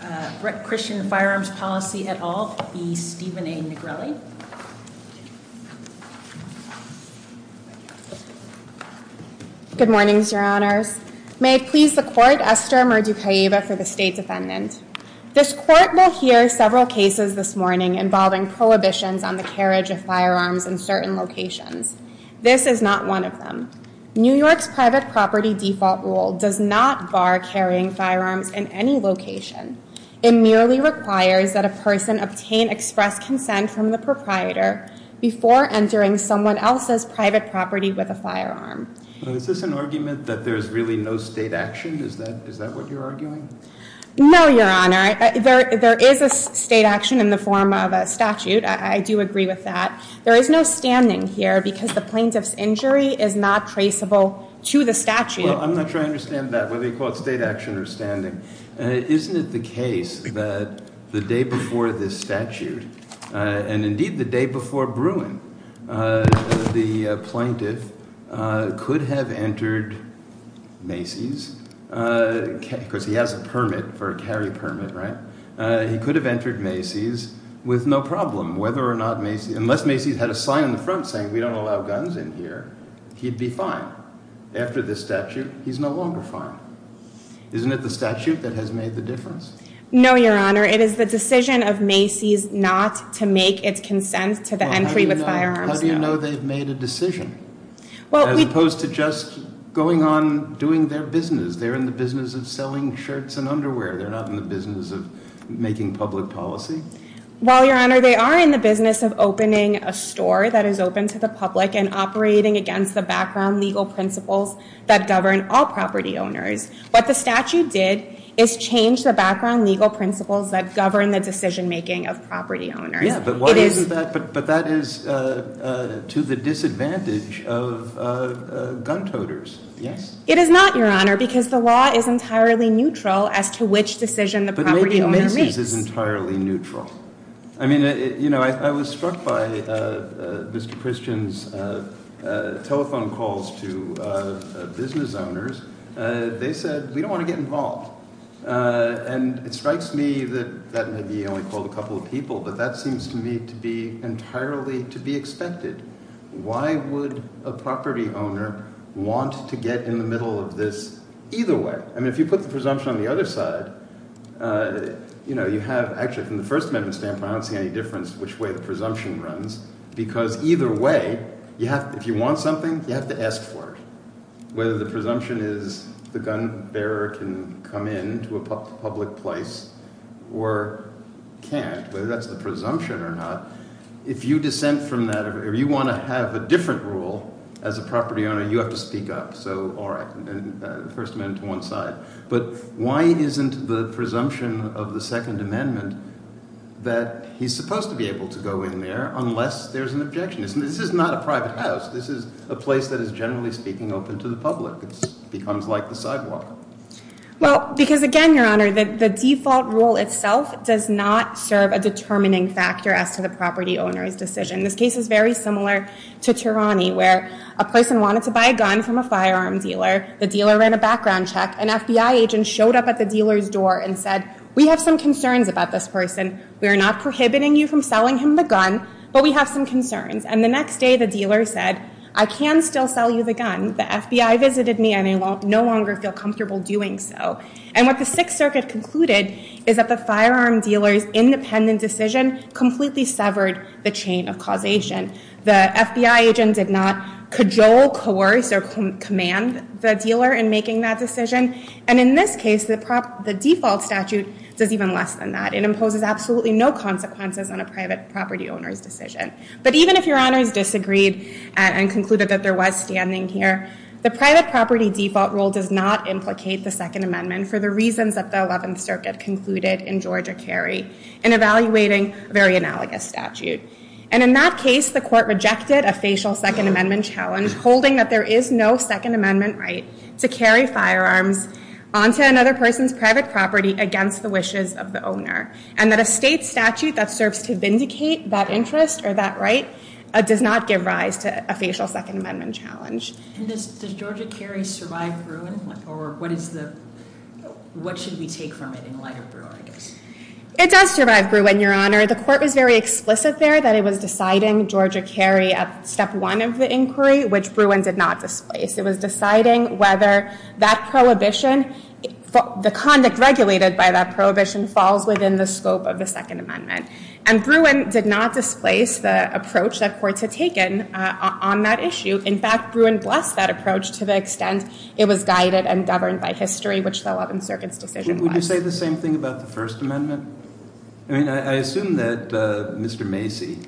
Good morning, Your Honors. May it please the Court, Esther Murducaiba for the State Defendant. This Court will hear several cases this morning involving prohibitions on the carriage of firearms in certain locations. This is not one of them. New York's private property default rule does not bar carrying firearms in any location. It merely requires that a person obtain express consent from the proprietor before entering someone else's private property with a firearm. Is this an argument that there's really no state action? Is that what you're arguing? No, Your Honor. There is a state action in the form of a statute. I do agree with that. There is no standing here because the plaintiff's injury is not traceable to the statute. I'm not sure I understand that, whether you call it state action or standing. Isn't it the case that the day before this statute, and indeed the day before Bruin, the plaintiff could have entered Macy's, because he has a permit for a carry permit, right? He could have entered Macy's with no problem. Unless Macy's had a sign on the front saying we don't allow guns in here, he'd be fine. After this statute, he's no longer fine. Isn't it the statute that has made the difference? No, Your Honor. It is the decision of Macy's not to make its consent to the entry with firearms. How do you know they've made a decision? As opposed to just going on doing their business. They're in the business of selling shirts and underwear. They're not in the business of making public policy. Well, Your Honor, they are in the business of opening a store that is open to the public and operating against the background legal principles that govern all property owners. What the statute did is change the background legal principles that govern the decision making of property owners. Yeah, but why isn't that? But that is to the disadvantage of gun toters, yes? It is not, Your Honor, because the law is entirely neutral as to which decision the property owner makes. The law is entirely neutral. I mean, you know, I was struck by Mr. Christian's telephone calls to business owners. They said, we don't want to get involved. And it strikes me that that may be only a couple of people, but that seems to me to be entirely to be expected. Why would a property owner want to get in the middle of this either way? I mean, if you put the presumption on the other side, you know, you have actually from the First Amendment standpoint, I don't see any difference which way the presumption runs, because either way, if you want something, you have to ask for it. Whether the presumption is the gun bearer can come in to a public place or can't, whether that's the presumption or not, if you dissent from that or you want to have a different rule as a property owner, you But why isn't the presumption of the Second Amendment that he's supposed to be able to go in there unless there's an objection? This is not a private house. This is a place that is, generally speaking, open to the public. It becomes like the sidewalk. Well, because again, Your Honor, the default rule itself does not serve a determining factor as to the property owner's decision. This case is very similar to Tirani, where a person wanted to buy a gun from a firearm dealer. The dealer ran a background check. An FBI agent showed up at the dealer's door and said, we have some concerns about this person. We are not prohibiting you from selling him the gun, but we have some concerns. And the next day the dealer said, I can still sell you the gun. The FBI visited me and I no longer feel comfortable doing so. And what the Sixth Circuit concluded is that the firearm dealer's independent decision completely severed the chain of causation. The FBI agent did not jolt, coerce, or command the dealer in making that decision. And in this case, the default statute does even less than that. It imposes absolutely no consequences on a private property owner's decision. But even if Your Honors disagreed and concluded that there was standing here, the private property default rule does not implicate the Second Amendment for the reasons that the Eleventh Circuit concluded in Georgia Kerry in evaluating a very analogous statute. And in that case, the court rejected a facial Second Amendment challenge, holding that there is no Second Amendment right to carry firearms onto another person's private property against the wishes of the owner. And that a state statute that serves to vindicate that interest or that right does not give rise to a facial Second Amendment challenge. And does Georgia Kerry survive Bruin? Or what should we take from it in light of Bruin, I guess? It does survive Bruin, Your Honor. The court was very explicit there that it was deciding Georgia Kerry at step one of the inquiry, which Bruin did not displace. It was deciding whether that prohibition, the conduct regulated by that prohibition, falls within the scope of the Second Amendment. And Bruin did not displace the approach that courts had taken on that issue. In fact, Bruin blessed that approach to the extent it was guided and governed by it. Would you say the same thing about the First Amendment? I mean, I assume that Mr. Macy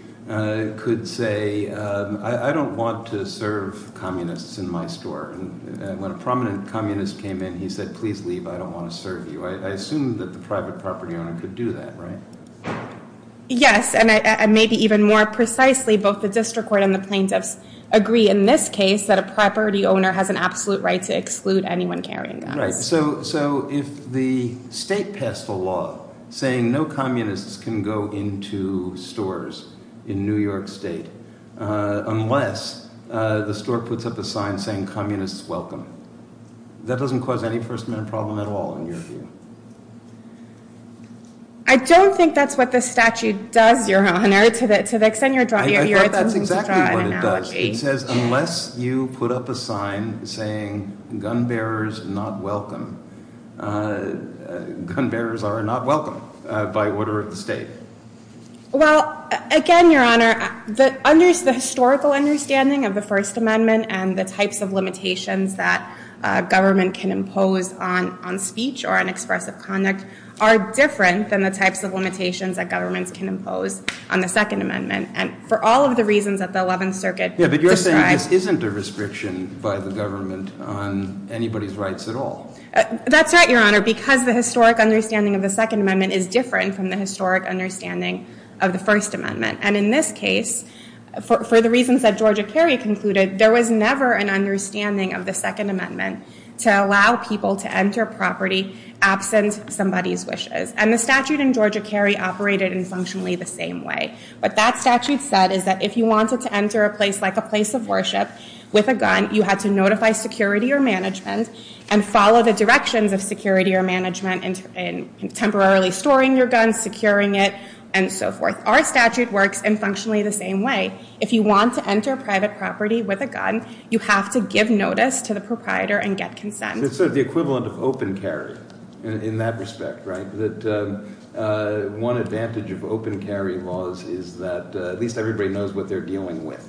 could say, I don't want to serve communists in my store. And when a prominent communist came in, he said, please leave. I don't want to serve you. I assume that the private property owner could do that, right? Yes. And maybe even more precisely, both the district court and the plaintiffs agree in this case that a property owner has an absolute right to exclude anyone carrying guns. Right. So if the state passed a law saying no communists can go into stores in New York State unless the store puts up a sign saying, communists welcome, that doesn't cause any First Amendment problem at all in your view? I don't think that's what the statute does, Your Honor, to the extent you're attempting to draw an analogy. It says, unless you put up a sign saying, gun bearers not welcome, gun bearers are not welcome by order of the state. Well, again, Your Honor, the historical understanding of the First Amendment and the types of limitations that government can impose on speech or on expressive conduct are different than the types of limitations that governments can impose on the Second Amendment. And for all of the reasons that the Eleventh Circuit described. Yeah, but you're saying this isn't a restriction by the government on anybody's rights at all. That's right, Your Honor, because the historic understanding of the Second Amendment is different from the historic understanding of the First Amendment. And in this case, for the reasons that Georgia Kerry concluded, there was never an understanding of the Second Amendment to allow people to enter property absent somebody's wishes. And the statute in Georgia Kerry operated in functionally the same way. What that statute said is that if you wanted to enter a place like a place of worship with a gun, you had to notify security or management and follow the directions of security or management in temporarily storing your gun, securing it, and so forth. Our statute works in functionally the same way. If you want to enter private property with a gun, you have to give notice to the proprietor and get consent. It's sort of the equivalent of open carry in that respect, right? That one advantage of open carry laws is that at least everybody knows what they're dealing with.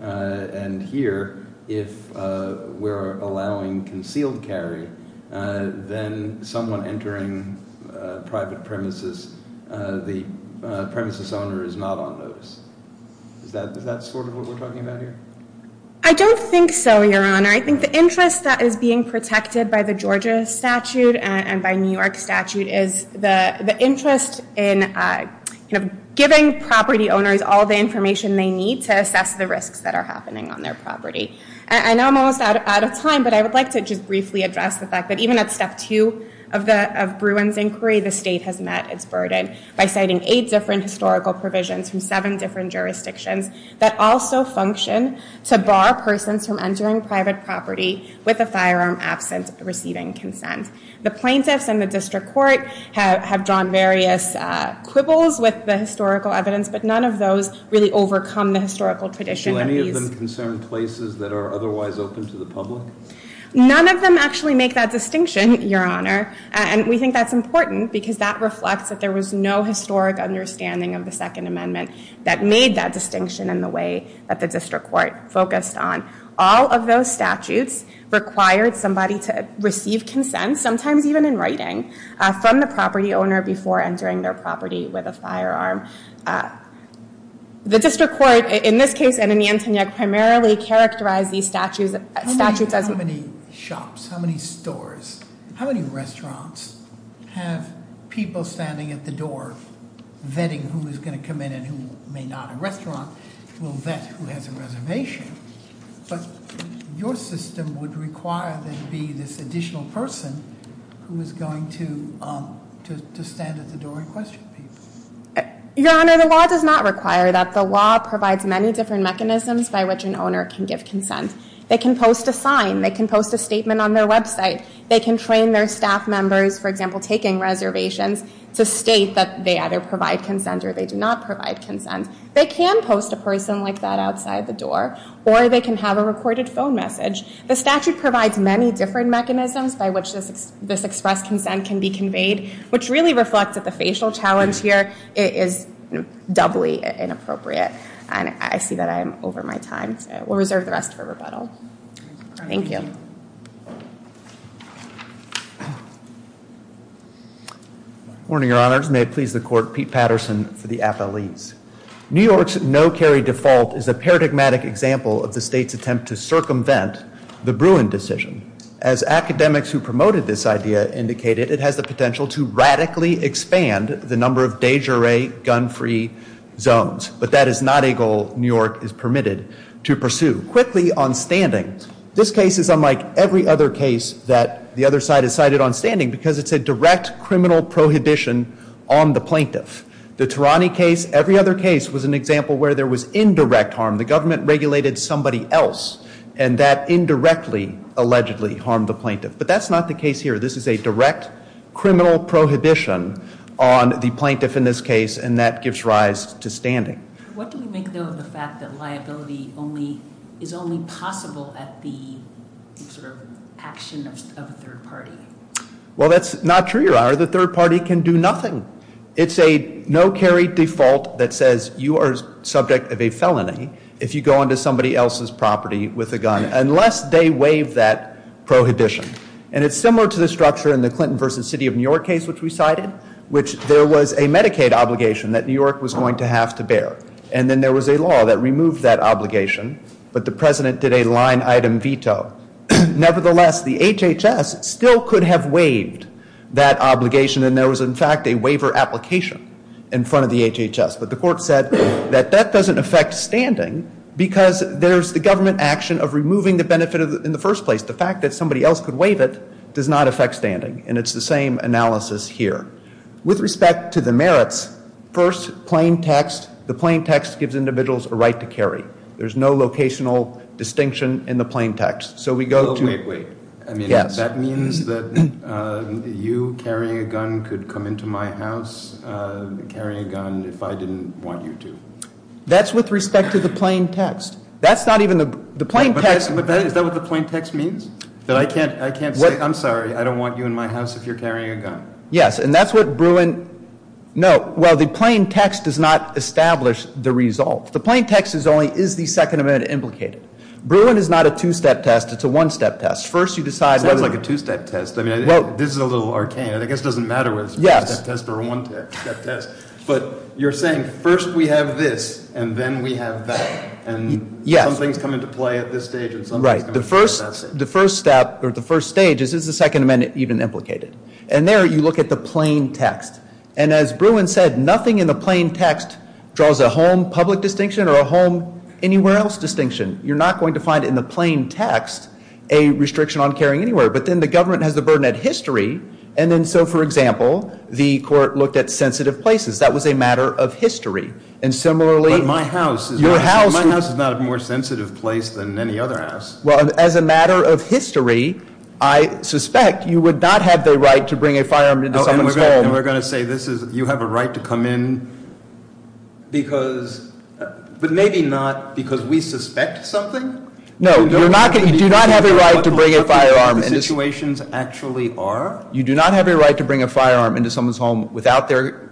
And here, if we're allowing concealed carry, then someone entering private premises, the premises owner is not on notice. Is that sort of what we're talking about here? I don't think so, Your Honor. I think the interest that is being protected by the Georgia statute and by New York statute is the interest in giving property owners all the information they need to assess the risks that are happening on their property. I know I'm almost out of time, but I would like to just briefly address the fact that even at step two of Bruin's inquiry, the state has met its burden by citing eight different historical provisions from seven different jurisdictions that also function to bar persons from entering private property with a firearm absent receiving consent. The plaintiffs and the district court have drawn various quibbles with the historical evidence, but none of those really overcome the historical tradition of these. Do any of them concern places that are otherwise open to the public? None of them actually make that distinction, Your Honor. And we think that's important because that reflects that there was no historic understanding of the Second Amendment that made that distinction in the way that the district court focused on. All of those statutes required somebody to receive consent, sometimes even in writing, from the property owner before entering their property with a firearm. The district court, in this case and in the Antonia, primarily characterized these statutes as... How many shops, how many stores, how many restaurants have people standing at the door vetting who is going to come in and who may not. A restaurant will vet who has a reservation. But your system would require there to be this additional person who is going to stand at the door and question people. Your Honor, the law does not require that. The law provides many different mechanisms by which an owner can give consent. They can post a sign. They can post a statement on their website. They can train their staff members, for example, taking reservations to state that they either provide consent or they do not provide consent. They can post a person like that outside the door, or they can have a recorded phone message. The statute provides many different mechanisms by which this expressed consent can be conveyed, which really reflects that the facial challenge here is doubly inappropriate. And I see that I'm over my time, so we'll reserve the rest for rebuttal. Thank you. Morning, Your Honors. May it please the Court, Pete Patterson for the appellees. New York's no-carry default is a paradigmatic example of the state's attempt to circumvent the Bruin decision. As academics who promoted this idea indicated, it has the potential to radically expand the number of de jure gun-free zones. But that is not a goal New York was permitted to pursue. Quickly on standing, this case is unlike every other case that the other side has cited on standing because it's a direct criminal prohibition on the plaintiff. The Tirani case, every other case, was an example where there was indirect harm. The government regulated somebody else, and that indirectly, allegedly, harmed the plaintiff. But that's not the case here. This is a direct criminal prohibition on the plaintiff in this case, and that gives rise to standing. What do we make, though, of the fact that liability is only possible at the action of a third party? Well, that's not true, Your Honor. The third party can do nothing. It's a no-carry default that says you are subject of a felony if you go into somebody else's property with a gun, unless they waive that prohibition. And it's similar to the structure in the Clinton v. City of New York case which we cited, which there was a Medicaid obligation that New York was going to have to bear. And then there was a law that removed that obligation, but the President did a line-item veto. Nevertheless, the HHS still could have waived that obligation, and there was, in fact, a waiver application in front of the HHS. But the Court said that that doesn't affect standing because there's the government action of removing the benefit in the first place. The fact that somebody else could waive it does not affect standing, and it's the same analysis here. With respect to the merits, first, plain text. The plain text gives individuals a right to carry. There's no locational distinction in the plain text. So we go to... Oh, wait, wait. I mean, that means that you carrying a gun could come into my house carrying a gun if I didn't want you to? That's with respect to the plain text. That's not even the plain text... Is that what the plain text means? That I can't say, I'm sorry, I don't want you in my house if you're carrying a gun? Yes, and that's what Bruin... No, well, the plain text does not establish the result. The plain text is only, is the second amendment implicated? Bruin is not a two-step test, it's a one-step test. First, you decide... It sounds like a two-step test. I mean, this is a little arcane. I guess it doesn't matter whether it's a two-step test or a one-step test. But you're saying, first we have this, and then we have that, and something's come into play at this stage, and something's come into play at that stage. Right. The first step, or the first stage, is, is the second amendment even implicated? And there, you look at the plain text. And as Bruin said, nothing in the plain text draws a home public distinction or a home anywhere else distinction. You're not going to find in the plain text a restriction on carrying anywhere. But then the government has the burden of history, and then so, for example, the court looked at sensitive places. That was a matter of history. And similarly... But my house is not a more sensitive place than any other house. Well, as a matter of history, I suspect you would not have the right to bring a firearm into someone's home. And we're going to say this is, you have a right to come in because, but maybe not because we suspect something? No, you're not going to, you do not have a right to bring a firearm into... Do you know what the likelihood of the situations actually are? You do not have a right to bring a firearm into someone's home without their,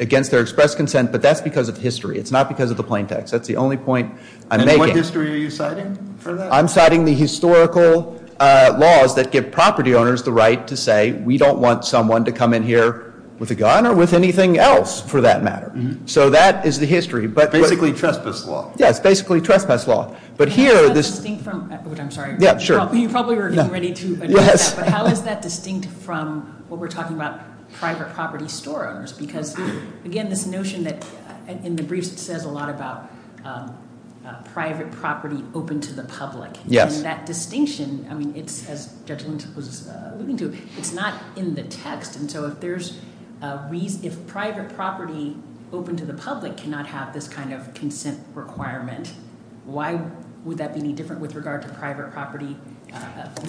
against their express consent, but that's because of history. It's not because of the plain text. That's the only point I'm making. And what history are you citing for that? I'm citing the historical laws that give property owners the right to say, we don't want someone to come in here with a gun or with anything else, for that matter. So that is the history, but... Basically trespass law. Yeah, it's basically trespass law. But here, this... You probably were getting ready to address that, but how is that distinct from what we're talking about private property store owners? Because again, this notion that in the briefs it says a lot about private property open to the public. And that distinction, I mean, it's as Judge Lind was alluding to, it's not in the text. And so if there's a reason, if private property open to the public cannot have this kind of consent requirement, why would that be any different with regard to private property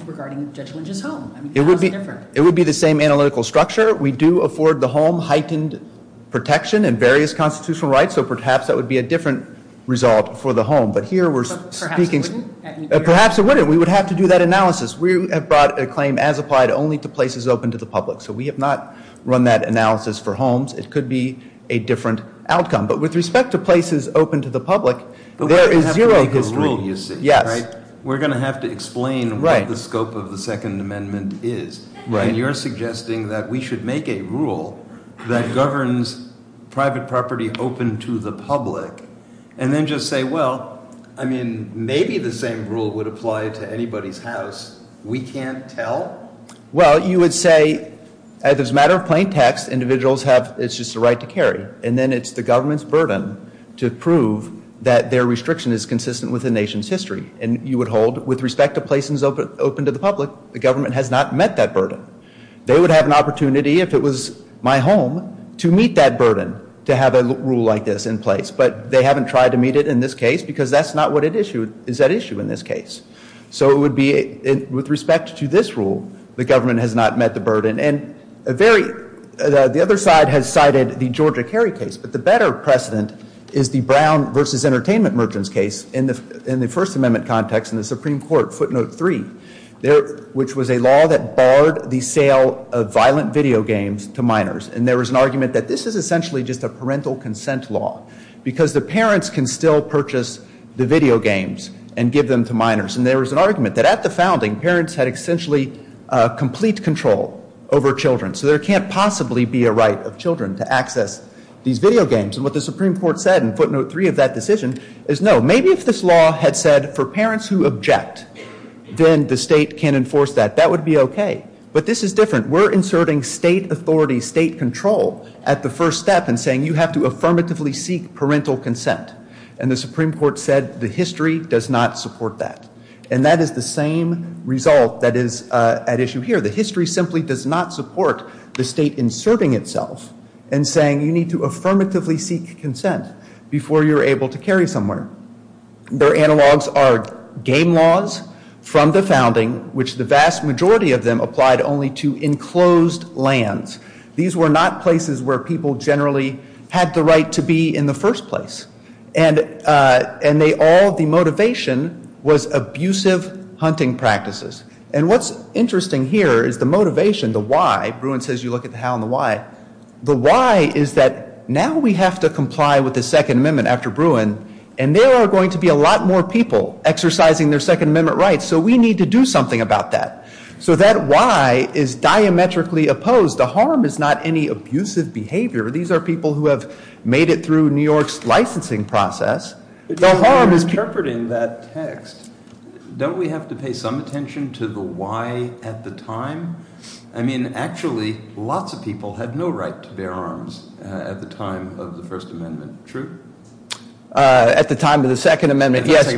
regarding Judge Lind's home? It would be the same analytical structure. We do afford the home heightened protection and various constitutional rights. So perhaps that would be a different result for the home. But here we're speaking... Perhaps it wouldn't? Perhaps it wouldn't. We would have to do that analysis. We have brought a claim as applied only to places open to the public. So we have not run that analysis for homes. It could be a different outcome. But with respect to places open to the public, there is zero But we're going to have to make a rule, you see, right? Yes. We're going to have to explain what the scope of the Second Amendment is. And you're suggesting that we should make a rule that governs private property open to the public, and then just say, well, I mean, maybe the same rule would apply to anybody's house. We can't tell? Well, you would say, as a matter of plaintext, individuals have, it's just a right to carry. And then it's the government's burden to prove that their restriction is consistent with the nation's history. And you would hold, with respect to places open to the public, the government has not met that burden. They would have an opportunity, if it was my home, to meet that burden, to have a rule like this in place. But they haven't tried to meet it in this case because that's not what it issued, is at issue in this case. So it would be, with respect to this rule, the government has not met the burden. And a very, the other side has cited the Georgia Kerry case. But the better precedent is the Brown versus Entertainment Merchants case in the First Amendment context in the Supreme Court, footnote 3, which was a law that barred the sale of violent video games to minors. And there was an argument that this is essentially just a parental consent law because the parents can still purchase the video games and give them to minors. And there was an argument that at the founding, parents had essentially complete control over children. So there can't possibly be a right of children to access these video games. And what the Supreme Court said in footnote 3 of that decision is, no, maybe if this law had said, for parents who object, then the state can enforce that. That would be okay. But this is different. We're inserting state authority, state control at the first step in saying you have to affirmatively seek parental consent. And the Supreme Court said the history does not support that. And that is the same result that is at issue here. The history simply does not support the state inserting itself and saying you need to affirmatively seek consent before you're able to carry somewhere. Their analogs are game laws from the founding, which the vast majority of them applied only to enclosed lands. These were not places where people generally had the right to be in the first place. And they all, the motivation was abusive hunting practices. And what's interesting here is the motivation, the why. Bruin says you look at the how and the why. The why is that now we have to comply with the Second Amendment after Bruin, and there are going to be a lot more people exercising their Second Amendment rights. So we need to do something about that. So that why is diametrically opposed. The harm is not any of New York's licensing process. The harm is interpreting that text. Don't we have to pay some attention to the why at the time? I mean, actually, lots of people had no right to bear arms at the time of the First Amendment. True? At the time of the Second Amendment, yes.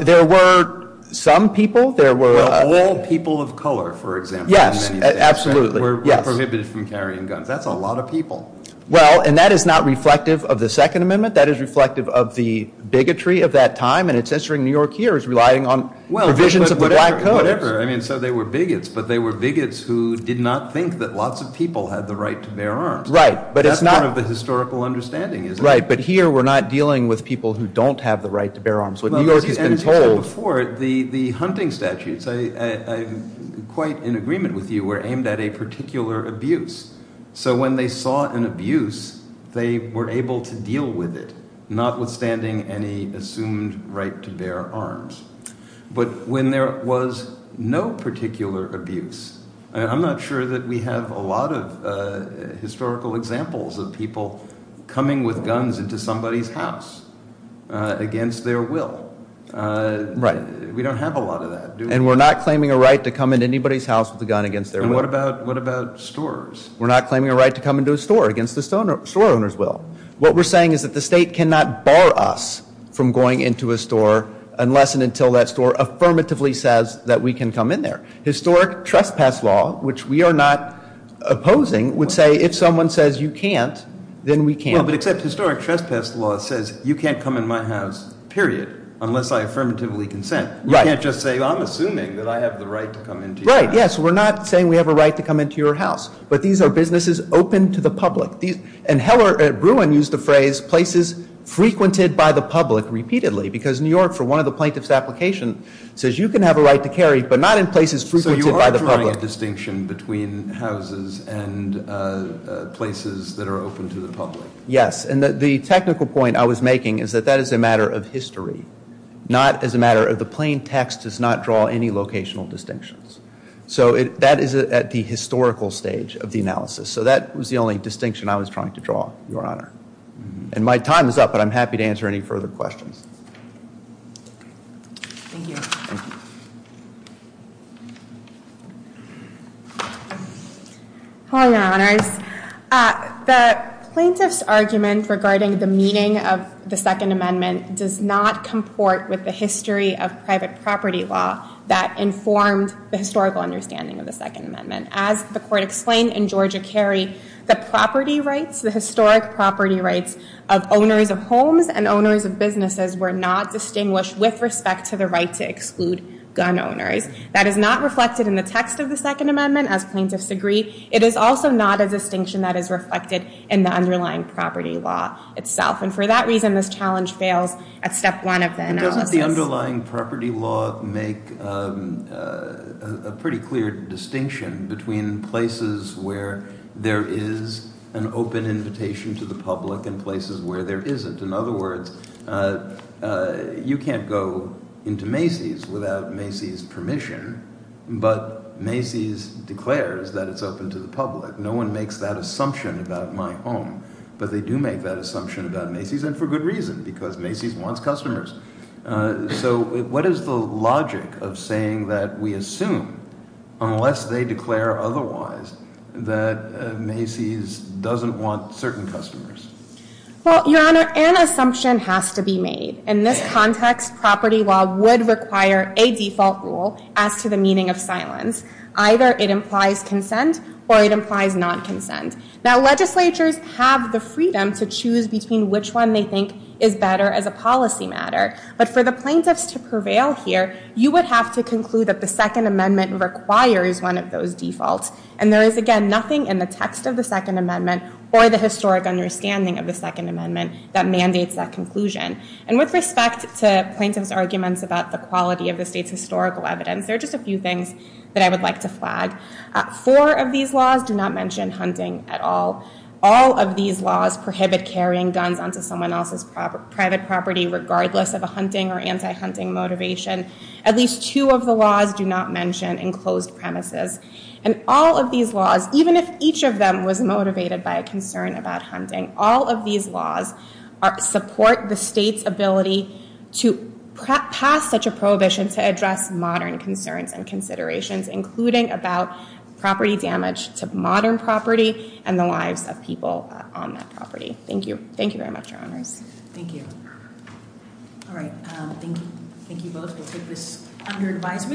There were some people. There were all people of color, for example. Yes, absolutely. But were prohibited from carrying guns. That's a lot of people. Well, and that is not reflective of the Second Amendment. That is reflective of the bigotry of that time. And it's interesting New York here is relying on provisions of the Black Codes. Well, whatever. I mean, so they were bigots. But they were bigots who did not think that lots of people had the right to bear arms. Right. But it's not. That's part of the historical understanding, isn't it? Right. But here we're not dealing with people who don't have the right to bear arms. What New York has been told. And as you said before, the hunting statutes, I'm quite in particular abuse. So when they saw an abuse, they were able to deal with it, notwithstanding any assumed right to bear arms. But when there was no particular abuse, I'm not sure that we have a lot of historical examples of people coming with guns into somebody's house against their will. Right. We don't have a lot of that, do we? And we're not claiming a right to come into anybody's house with a gun against their will. And what about stores? We're not claiming a right to come into a store against the store owner's will. What we're saying is that the state cannot bar us from going into a store unless and until that store affirmatively says that we can come in there. Historic trespass law, which we are not opposing, would say if someone says you can't, then we can't. Well, but except historic trespass law says you can't come in my house, period, unless I affirmatively consent. Right. You can't just say I'm assuming that I have the right to come into your house. Right. Yes. We're not saying we have a right to come into your house. But these are businesses open to the public. And Heller at Bruin used the phrase places frequented by the public repeatedly because New York, for one of the plaintiff's application, says you can have a right to carry, but not in places frequented by the public. So you are drawing a distinction between houses and places that are open to the public. Yes. And the technical point I was making is that that is a matter of history, not as a matter of the plain text does not draw any locational distinctions. So that is at the historical stage of the analysis. So that was the only distinction I was trying to draw, Your Honor. And my time is up, but I'm happy to answer any further questions. Thank you. Thank you. Hello, Your Honors. The plaintiff's argument regarding the meaning of the Second Amendment does not comport with the history of private property law that informed the historical understanding of the Second Amendment. As the court explained in Georgia Carey, the property rights, the historic property rights of owners of homes and owners of businesses were not distinguished with respect to the right to exclude gun owners. That is not reflected in the text of the Second Amendment, as plaintiffs agree. It is also not a distinction that is reflected in the underlying property law itself. And for that reason, this challenge fails at step one of the analysis. But doesn't the underlying property law make a pretty clear distinction between places where there is an open invitation to the public and places where there isn't? In other words, you can't go into Macy's without Macy's permission, but Macy's declares that it's open to the public. No one makes that assumption about my home, but they do make that assumption about Macy's, and for good reason, because Macy's wants customers. So what is the logic of saying that we assume, unless they declare otherwise, that Macy's doesn't want certain customers? Well, Your Honor, an assumption has to be made. In this context, property law would require a default rule as to the meaning of silence. Either it implies consent or it implies non-consent. Now, legislatures have the freedom to choose between which one they think is better as a policy matter. But for the plaintiffs to prevail here, you would have to conclude that the Second Amendment requires one of those defaults. And there is, again, nothing in the text of the Second Amendment or the historic understanding of the Second Amendment that mandates that conclusion. And with respect to plaintiffs' arguments about the quality of the state's historical evidence, there are just a few things that I would like to flag. Four of these laws do not mention hunting at all. All of these laws prohibit carrying guns onto someone else's private property, regardless of a hunting or anti-hunting motivation. At least two of the laws do not mention enclosed premises. And all of these laws, even if each of them was motivated by a concern about hunting, all of these laws support the state's ability to pass such a prohibition to address modern concerns and considerations, including about property damage to modern property and the lives of people on that property. Thank you. Thank you very much, Your Honors. Thank you. All right. Thank you both. We'll take this under advisement.